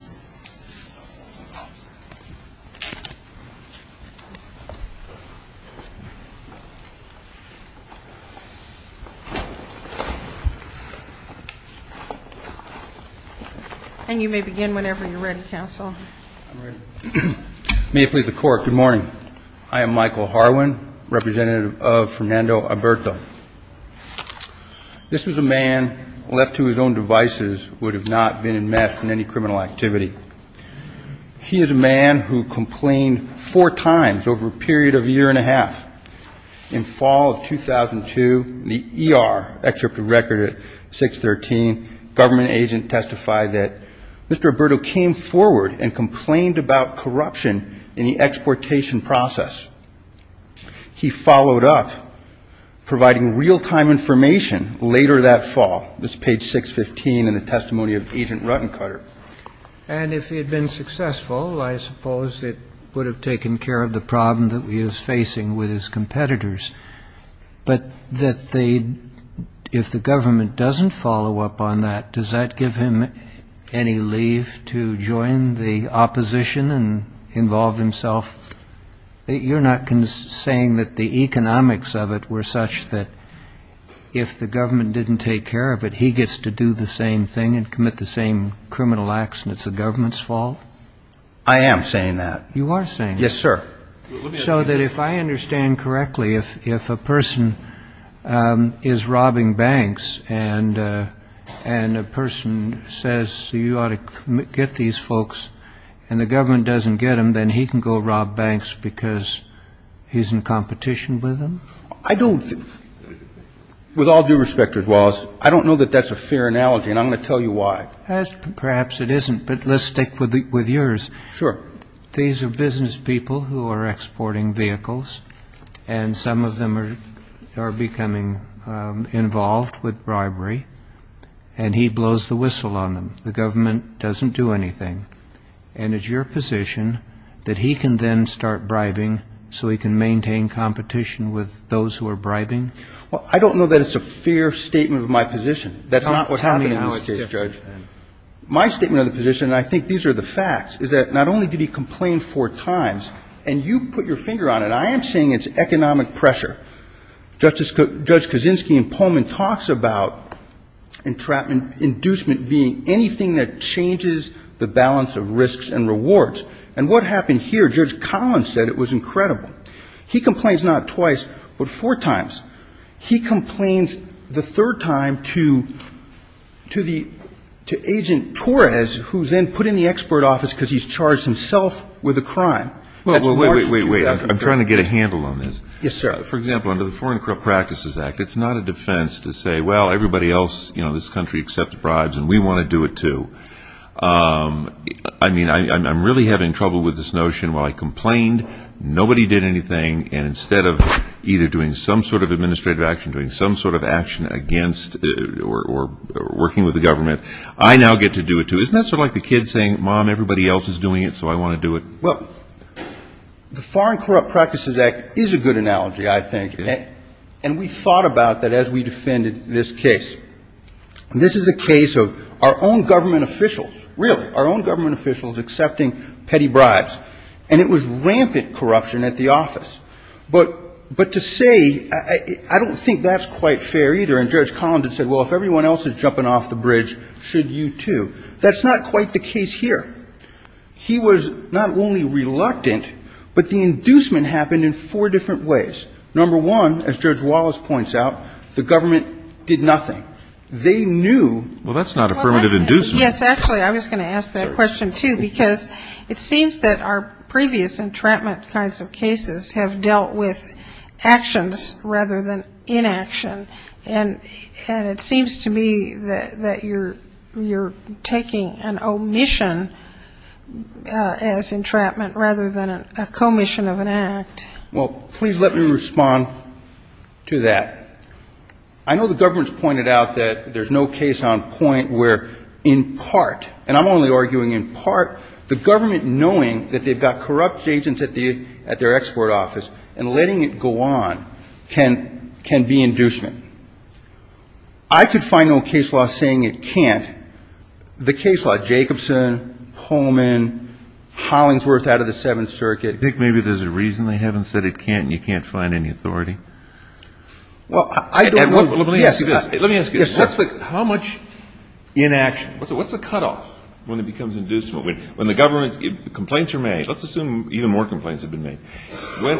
Good morning. I am Michael Harwin, representative of Fernando Aburto. This was a man left to his own devices would have not been enmeshed in any criminal activity. He is a man who complained four times over a period of a year and a half. In fall of 2002, in the ER, government agent testified that Mr. Aburto came forward and complained about corruption in the exportation process. He followed up providing real time information later that fall. This is page 615 in the testimony of Agent Ruttencutter. And if he had been successful, I suppose it would have taken care of the problem that he was facing with his competitors. But if the government doesn't follow up on that, does that give him any leave to join the opposition and involve himself? You're not saying that the economics of it were such that if the government didn't take care of it, he gets to do the same thing and commit the same criminal acts? I am saying that. You are saying that? Yes, sir. So that if I understand correctly, if a person is robbing banks and a person says, you ought to get these folks, and the government doesn't get them, then he can go rob banks because he's in competition with them? I don't think, with all due respect, Mr. Wallace, I don't know that that's a fair analogy, and I'm going to tell you why. Perhaps it isn't, but let's stick with yours. Sure. These are business people who are exporting vehicles, and some of them are becoming involved with bribery, and he blows the whistle on them. The government doesn't do anything. And it's your position that he can then start bribing so he can maintain competition with those who are bribing? Well, I don't know that it's a fair statement of my position. That's not what happened in this case, Judge. Tell me how it's different, then. My statement of the position, and I think these are the facts, is that not only did he complain four times, and you put your finger on it. I am saying it's economic pressure. Judge Kaczynski in Pullman talks about entrapment, inducement being anything that changes the balance of risks and rewards. And what happened here, Judge Collins said it was incredible. He complains not twice, but four times. He complains the third time to Agent Torres, who's then put in the export office because he's charged himself with a crime. Wait, wait, wait. I'm trying to get a handle on this. Yes, sir. For example, under the Foreign Corrupt Practices Act, it's not a defense to say, well, everybody else in this country accepts bribes, and we want to do it, too. I mean, I'm really having trouble with this notion. While I complained, nobody did anything. And instead of either doing some sort of administrative action, doing some sort of action against or working with the government, I now get to do it, too. Isn't that sort of like the kid saying, mom, everybody else is doing it, so I want to do it? Well, the Foreign Corrupt Practices Act is a good analogy, I think. And we thought about that as we defended this case. This is a case of our own government officials, really, our own government officials accepting petty bribes. And it was rampant corruption at the office. But to say, I don't think that's quite fair, either. And Judge Collins had said, well, if everyone else is jumping off the bridge, should you, too? That's not quite the case here. He was not only reluctant, but the inducement happened in four different ways. Number one, as Judge Wallace points out, the government did nothing. They knew. Well, that's not affirmative inducement. Yes, actually, I was going to ask that question, too. Because it seems that our previous entrapment kinds of cases have dealt with actions rather than inaction. And it seems to me that you're taking an omission as entrapment rather than a commission of an act. Well, please let me respond to that. I know the government's pointed out that there's no case on point where, in part, and I'm only arguing in part, the government knowing that they've got corrupt agents at their export office and letting it go on can be inducement. I could find no case law saying it can't. The case law, Jacobson, Pullman, Hollingsworth out of the Seventh Circuit. I think maybe there's a reason they haven't said it can't, and you can't find any authority. Well, I don't know. Let me ask you this. Let me ask you this. How much inaction? What's the cutoff when it becomes inducement? When the government, complaints are made. Let's assume even more complaints have been made.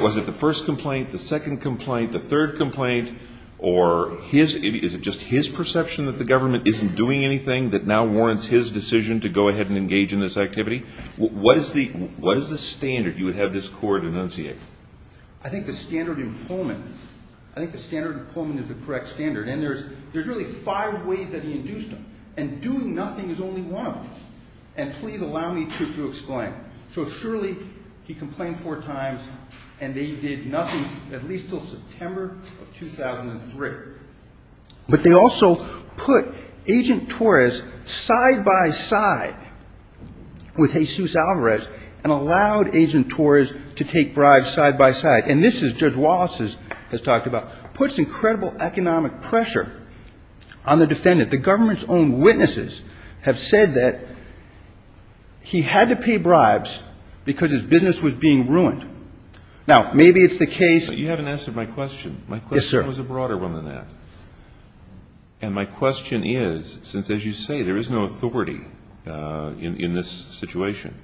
Was it the first complaint, the second complaint, the third complaint, or is it just his perception that the government isn't doing anything that now warrants his decision to go ahead and engage in this activity? What is the standard you would have this court enunciate? I think the standard in Pullman, I think the standard in Pullman is the correct standard, and there's really five ways that he induced them, and doing nothing is only one of them. And please allow me to explain. So surely he complained four times, and they did nothing at least until September of 2003. But they also put Agent Torres side by side with Jesus Alvarez, and allowed Agent Torres to take bribes side by side. And this is, Judge Wallace has talked about, puts incredible economic pressure on the defendant. The government's own witnesses have said that he had to pay bribes because his business was being ruined. Now, maybe it's the case. But you haven't answered my question. Yes, sir. My question was a broader one than that. And my question is, since, as you say, there is no authority in this situation,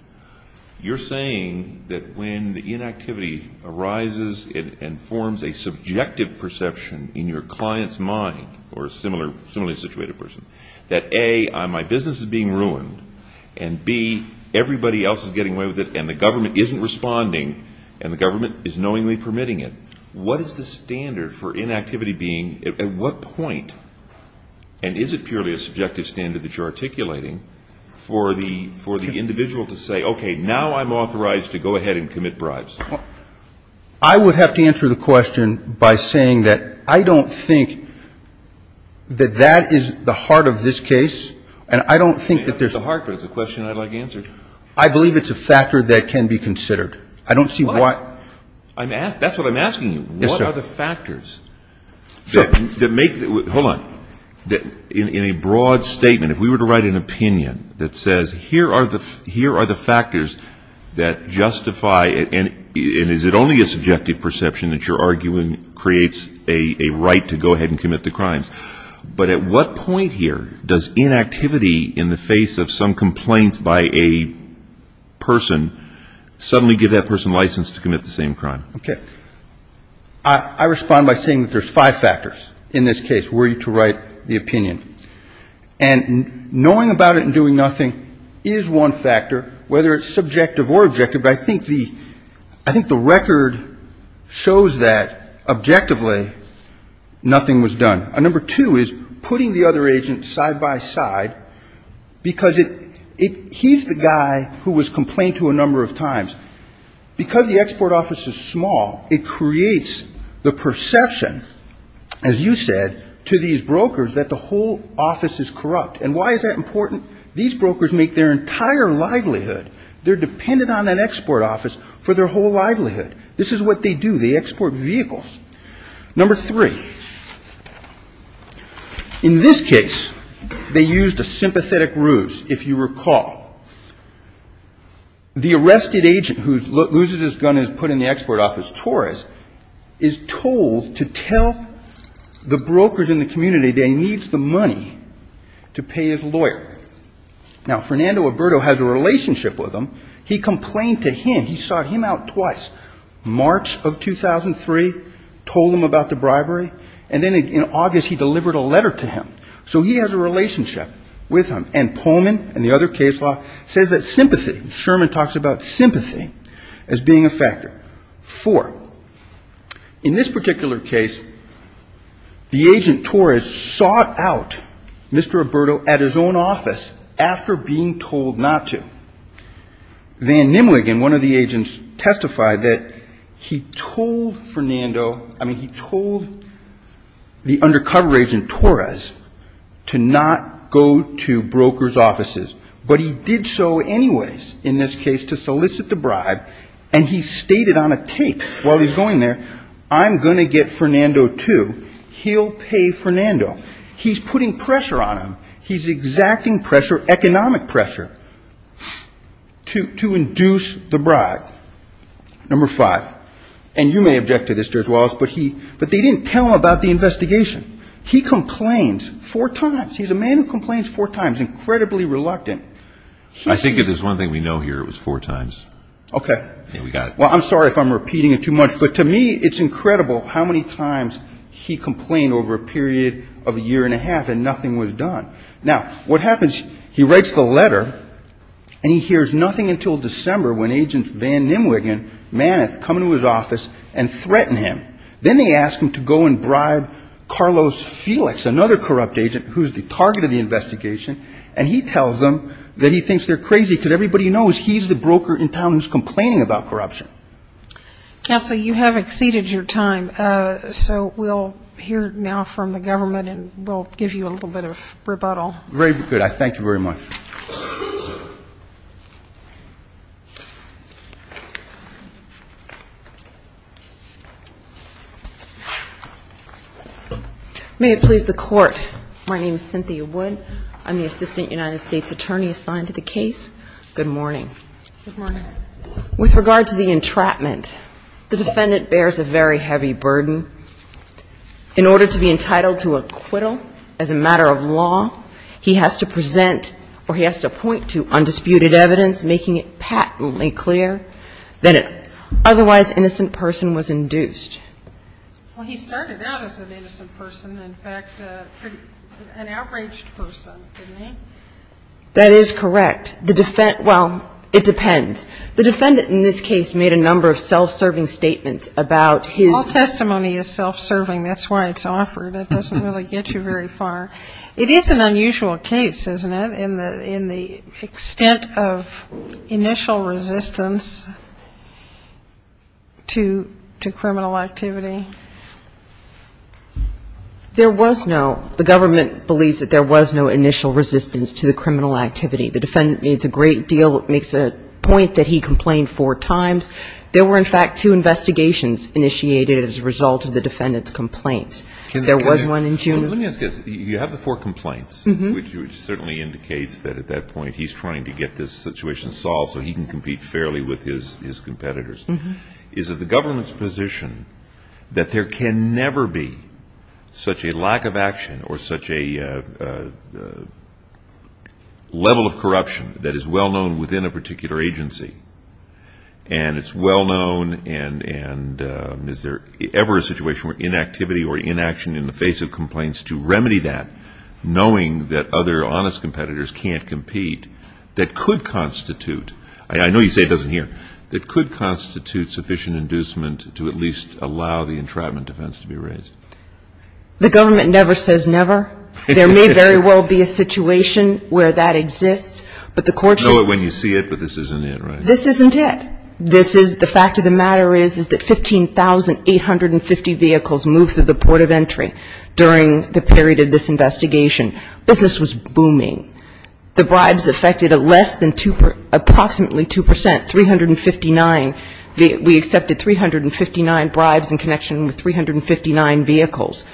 you're saying that when the inactivity arises and forms a subjective perception in your client's mind, or a similarly situated person, that A, my business is being ruined, and B, everybody else is getting away with it, and the government isn't responding, and the government is knowingly permitting it. What is the standard for inactivity being, at what point, and is it purely a subjective standard that you're articulating, for the individual to say, okay, now I'm authorized to go ahead and commit bribes? I would have to answer the question by saying that I don't think that that is the heart of this case. And I don't think that there's a question I'd like answered. I believe it's a factor that can be considered. I don't see why. That's what I'm asking you. Yes, sir. What are the factors? Sure. Hold on. In a broad statement, if we were to write an opinion that says, here are the factors that justify, and is it only a subjective perception that you're arguing creates a right to go ahead and commit the crimes, but at what point here does inactivity in the face of some complaint by a person suddenly give that person license to commit the same crime? Okay. I respond by saying that there's five factors in this case were you to write the opinion. And knowing about it and doing nothing is one factor, whether it's subjective or objective. But I think the record shows that, objectively, nothing was done. Number two is putting the other agent side by side, because he's the guy who was complained to a number of times. Because the export office is small, it creates the perception, as you said, to these brokers that the whole office is corrupt. And why is that important? These brokers make their entire livelihood. They're dependent on that export office for their whole livelihood. This is what they do. They export vehicles. Number three, in this case, they used a sympathetic ruse, if you recall. The arrested agent who loses his gun and is put in the export office, Torres, is told to tell the brokers in the community that he needs the money to pay his lawyer. Now, Fernando Alberto has a relationship with him. He complained to him. He sought him out twice. March of 2003, told him about the bribery. And then in August, he delivered a letter to him. So he has a relationship with him. And Pullman and the other case law says that sympathy, Sherman talks about sympathy, as being a factor. Four, in this particular case, the agent Torres sought out Mr. Alberto at his own office after being told not to. Van Nimwegen, one of the agents, testified that he told Fernando, I mean, he told the undercover agent Torres to not go to brokers' offices. But he did so anyways, in this case, to solicit the bribe. And he stated on a tape while he's going there, I'm going to get Fernando too. He'll pay Fernando. He's putting pressure on him. He's exacting pressure, economic pressure. To induce the bribe. Number five, and you may object to this, Judge Wallace, but they didn't tell him about the investigation. He complains four times. He's a man who complains four times, incredibly reluctant. I think if there's one thing we know here, it was four times. Okay. Yeah, we got it. Well, I'm sorry if I'm repeating it too much. But to me, it's incredible how many times he complained over a period of a year and a half and nothing was done. Now, what happens, he writes the letter and he hears nothing until December when Agent Van Nimwegen manneth come into his office and threaten him. Then they ask him to go and bribe Carlos Felix, another corrupt agent, who's the target of the investigation. And he tells them that he thinks they're crazy because everybody knows he's the broker in town who's complaining about corruption. Counsel, you have exceeded your time. So we'll hear now from the government and we'll give you a little bit of rebuttal. Very good. I thank you very much. May it please the Court, my name is Cynthia Wood. I'm the Assistant United States Attorney assigned to the case. Good morning. Good morning. With regard to the entrapment, the defendant bears a very heavy burden. In order to be entitled to acquittal as a matter of law, he has to present or he has to point to undisputed evidence making it patently clear that an otherwise innocent person was induced. Well, he started out as an innocent person. In fact, an outraged person, didn't he? That is correct. Well, it depends. The defendant in this case made a number of self-serving statements about his ---- All testimony is self-serving. That's why it's offered. It doesn't really get you very far. It is an unusual case, isn't it, in the extent of initial resistance to criminal activity? There was no. The government believes that there was no initial resistance to the criminal activity. It's a great deal. It makes a point that he complained four times. There were, in fact, two investigations initiated as a result of the defendant's complaints. There was one in June. Let me ask you this. You have the four complaints, which certainly indicates that at that point he's trying to get this situation solved so he can compete fairly with his competitors. Is it the government's position that there can never be such a lack of action or such a level of corruption that is well known within a particular agency and it's well known and is there ever a situation where inactivity or inaction in the face of complaints to remedy that, knowing that other honest competitors can't compete, that could constitute, and I know you say it doesn't here, that could constitute sufficient inducement to at least allow the entrapment defense to be raised? The government never says never. There may very well be a situation where that exists. But the courts know it when you see it, but this isn't it, right? This isn't it. This is the fact of the matter is that 15,850 vehicles moved through the port of entry during the period of this investigation. Business was booming. The bribes affected less than approximately 2 percent, 359. We accepted 359 bribes in connection with 359 vehicles.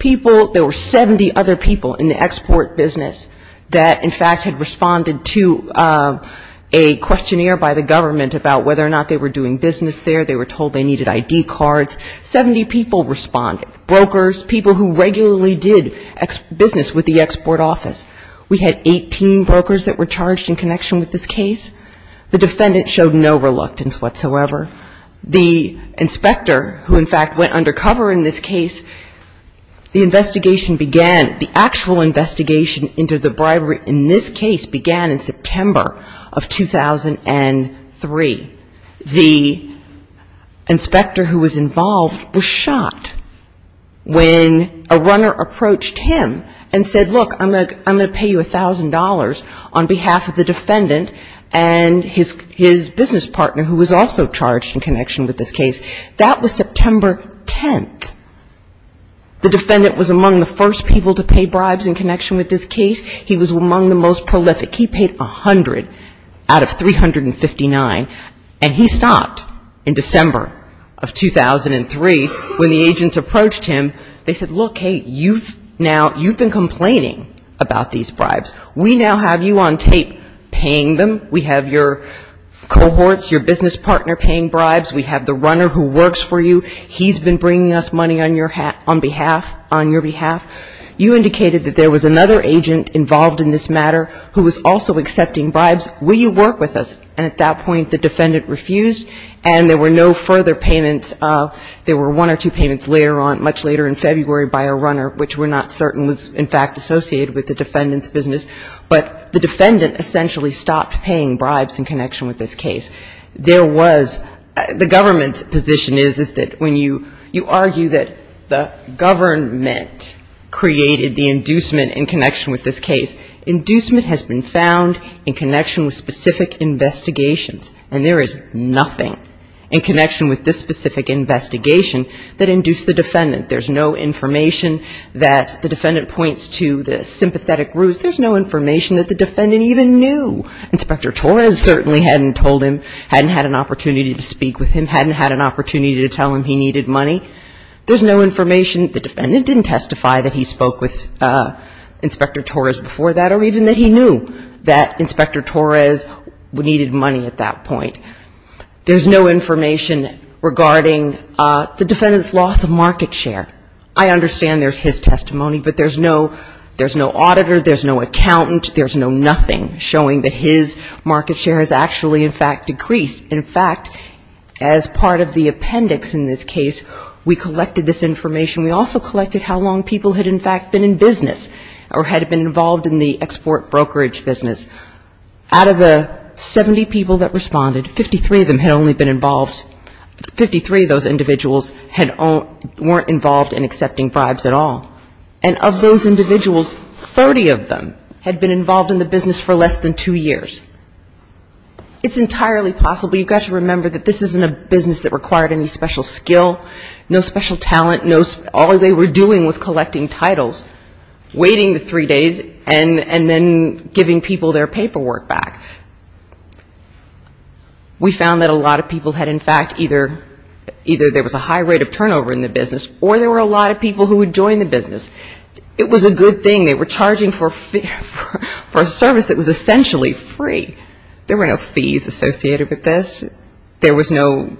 People, there were 70 other people in the export business that in fact had responded to a questionnaire by the government about whether or not they were doing business there. They were told they needed ID cards. Seventy people responded, brokers, people who regularly did business with the export office. We had 18 brokers that were charged in connection with this case. The defendant showed no reluctance whatsoever. The inspector who in fact went undercover in this case, the investigation began, the actual investigation into the bribery in this case began in September of 2003. The inspector who was involved was shocked when a runner approached him and said, look, I'm going to pay you $1,000 on behalf of the defendant and his business partner who was also charged in connection with this case. That was September 10th. The defendant was among the first people to pay bribes in connection with this case. He was among the most prolific. He paid 100 out of 359. And he stopped in December of 2003 when the agents approached him. They said, look, hey, you've now, you've been complaining about these bribes. We now have you on tape paying them. We have your cohorts, your business partner paying bribes. We have the runner who works for you. He's been bringing us money on your behalf. You indicated that there was another agent involved in this matter who was also accepting bribes. Will you work with us? And at that point the defendant refused and there were no further payments. There were one or two payments later on, much later in February by a runner, which we're not certain was in fact associated with the defendant's business. But the defendant essentially stopped paying bribes in connection with this case. There was the government's position is that when you argue that the government created the inducement in connection with this case, inducement has been found in connection with specific investigations. And there is nothing in connection with this specific investigation that induced the defendant. There's no information that the defendant points to the sympathetic ruse. There's no information that the defendant even knew. Inspector Torres certainly hadn't told him, hadn't had an opportunity to speak with him, hadn't had an opportunity to tell him he needed money. There's no information, the defendant didn't testify that he spoke with Inspector Torres before that or even that he knew that Inspector Torres needed money at that point. There's no information regarding the defendant's loss of market share. I understand there's his testimony, but there's no auditor, there's no accountant, there's no nothing showing that his market share has actually in fact decreased. In fact, as part of the appendix in this case, we collected this information. We also collected how long people had in fact been in business or had been involved in the export brokerage business. Out of the 70 people that responded, 53 of them had only been involved, 53 of those individuals weren't involved in accepting bribes at all. And of those individuals, 30 of them had been involved in the business for less than two years. It's entirely possible, you've got to remember that this isn't a business that required any special skill, no special talent, all they were doing was collecting titles, waiting the three days and then giving people their paperwork back. We found that a lot of people had in fact either there was a high rate of turnover in the business or there were a lot of people who had joined the business. It was a good thing, they were charging for a service that was essentially free. There were no fees associated with this. There was no,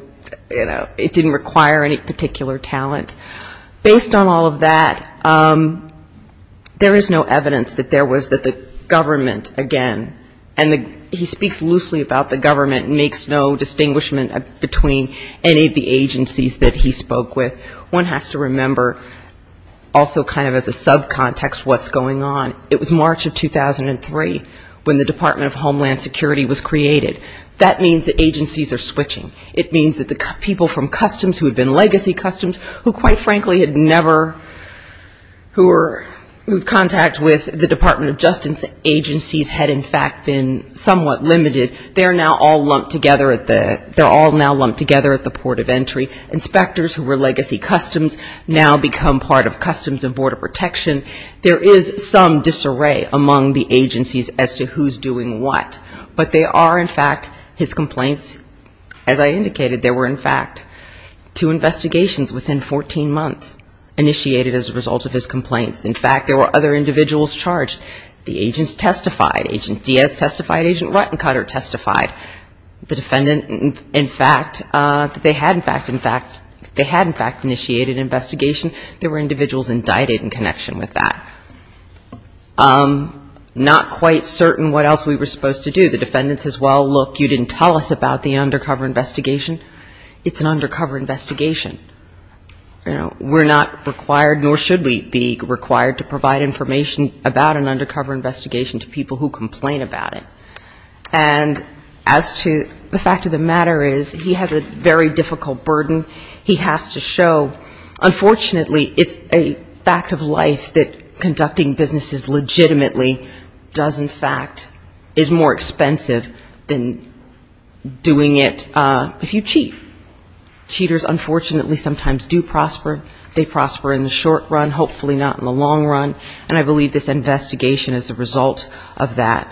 you know, it didn't require any particular talent. Based on all of that, there is no evidence that there was that the government, again, and he speaks loosely about the government and makes no distinguishment between any of the agencies that he spoke with. One has to remember also kind of as a subcontext what's going on. It was March of 2003 when the Department of Homeland Security was created. That means that agencies are switching. It means that the people from Customs who had been legacy Customs, who quite frankly had never, whose contact with the Department of Justice agencies had in fact been somewhat limited, they're now all lumped together at the port of entry. Inspectors who were legacy Customs now become part of Customs and Border Protection. There is some disarray among the agencies as to who's doing what. But they are in fact his complaints. As I indicated, there were in fact two investigations within 14 months initiated as a result of his complaints. In fact, there were other individuals charged. The agents testified. Agent Diaz testified. Agent Ruttencutter testified. The defendant in fact, they had in fact initiated an investigation. There were individuals indicted in connection with that. Not quite certain what else we were supposed to do. The defendant says, well, look, you didn't tell us about the undercover investigation. It's an undercover investigation. You know, we're not required, nor should we be required to provide information about an undercover investigation to people who complain about it. And as to the fact of the matter is, he has a very difficult burden. He has to show, unfortunately, it's a fact of life that contributes to the fact that conducting businesses legitimately does in fact is more expensive than doing it if you cheat. Cheaters unfortunately sometimes do prosper. They prosper in the short run, hopefully not in the long run. And I believe this investigation is a result of that.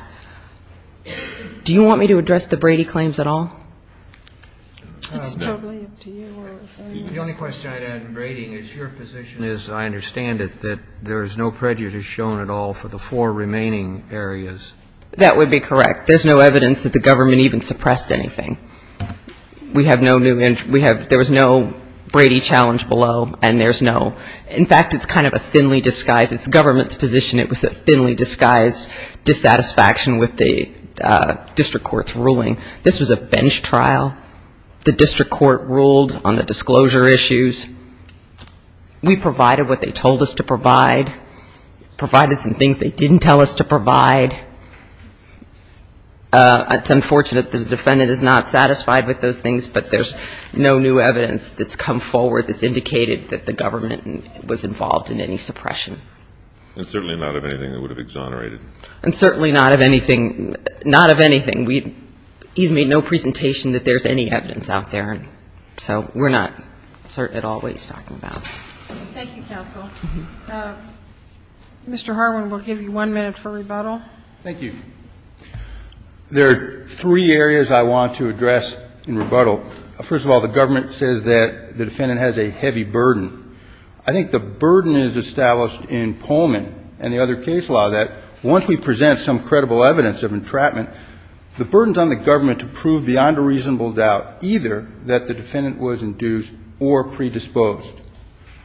Do you want me to address the Brady claims at all? It's totally up to you. The only question I'd add to Brady is your position is, I understand it, that there is no prejudice shown at all for the four remaining areas. That would be correct. There's no evidence that the government even suppressed anything. We have no new, we have, there was no Brady challenge below, and there's no, in fact, it's kind of a thinly disguised, it's government's position, it was a thinly disguised dissatisfaction with the district court's ruling. This was a bench trial. The district court ruled on the disclosure issues. We provided what they told us to provide. Provided some things they didn't tell us to provide. It's unfortunate that the defendant is not satisfied with those things, but there's no new evidence that's come forward that's indicated that the government was involved in any suppression. And certainly not of anything that would have exonerated. And certainly not of anything, not of anything. He's made no presentation that there's any evidence out there. So we're not certain at all. That's all that he's talking about. Thank you, counsel. Mr. Harwin, we'll give you one minute for rebuttal. Thank you. There are three areas I want to address in rebuttal. First of all, the government says that the defendant has a heavy burden. I think the burden is established in Pullman and the other case law that once we present some credible evidence of entrapment, the burden's on the government to prove beyond a reasonable doubt either that the defendant was induced or predisposed.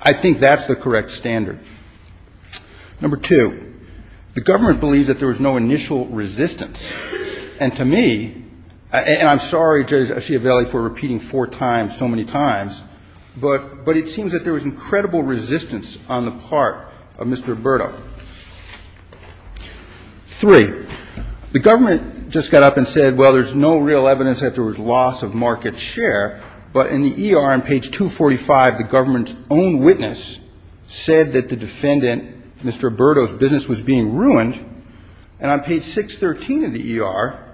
I think that's the correct standard. Number two, the government believes that there was no initial resistance. And to me, and I'm sorry, Judge Asciovelli, for repeating four times so many times, but it seems that there was incredible resistance on the part of Mr. Roberto. Three, the government just got up and said, well, there's no real evidence that there was loss of market share. But in the ER on page 245, the government's own witness said that the defendant, Mr. Roberto's business was being ruined. And on page 613 of the ER,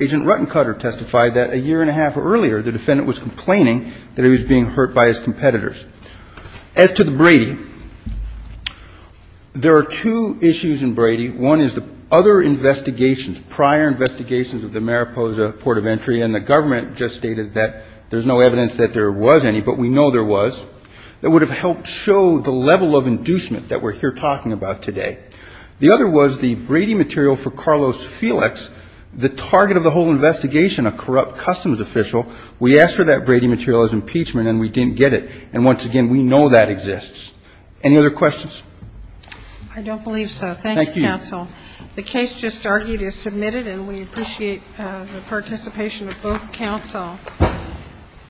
Agent Ruttencutter testified that a year and a half earlier the defendant was complaining that he was being hurt by his competitors. As to the Brady, there are two issues in Brady. One is the other investigations, prior investigations of the Mariposa Port of Entry and the government just stated that there's no evidence that there was any, but we know there was, that would have helped show the level of inducement that we're here talking about today. The other was the Brady material for Carlos Felix, the target of the whole investigation, a corrupt customs official. We asked for that Brady material as impeachment and we didn't get it. And once again, we know that exists. Any other questions? I don't believe so. Thank you, counsel. The case just argued is submitted and we appreciate the participation of both counsel.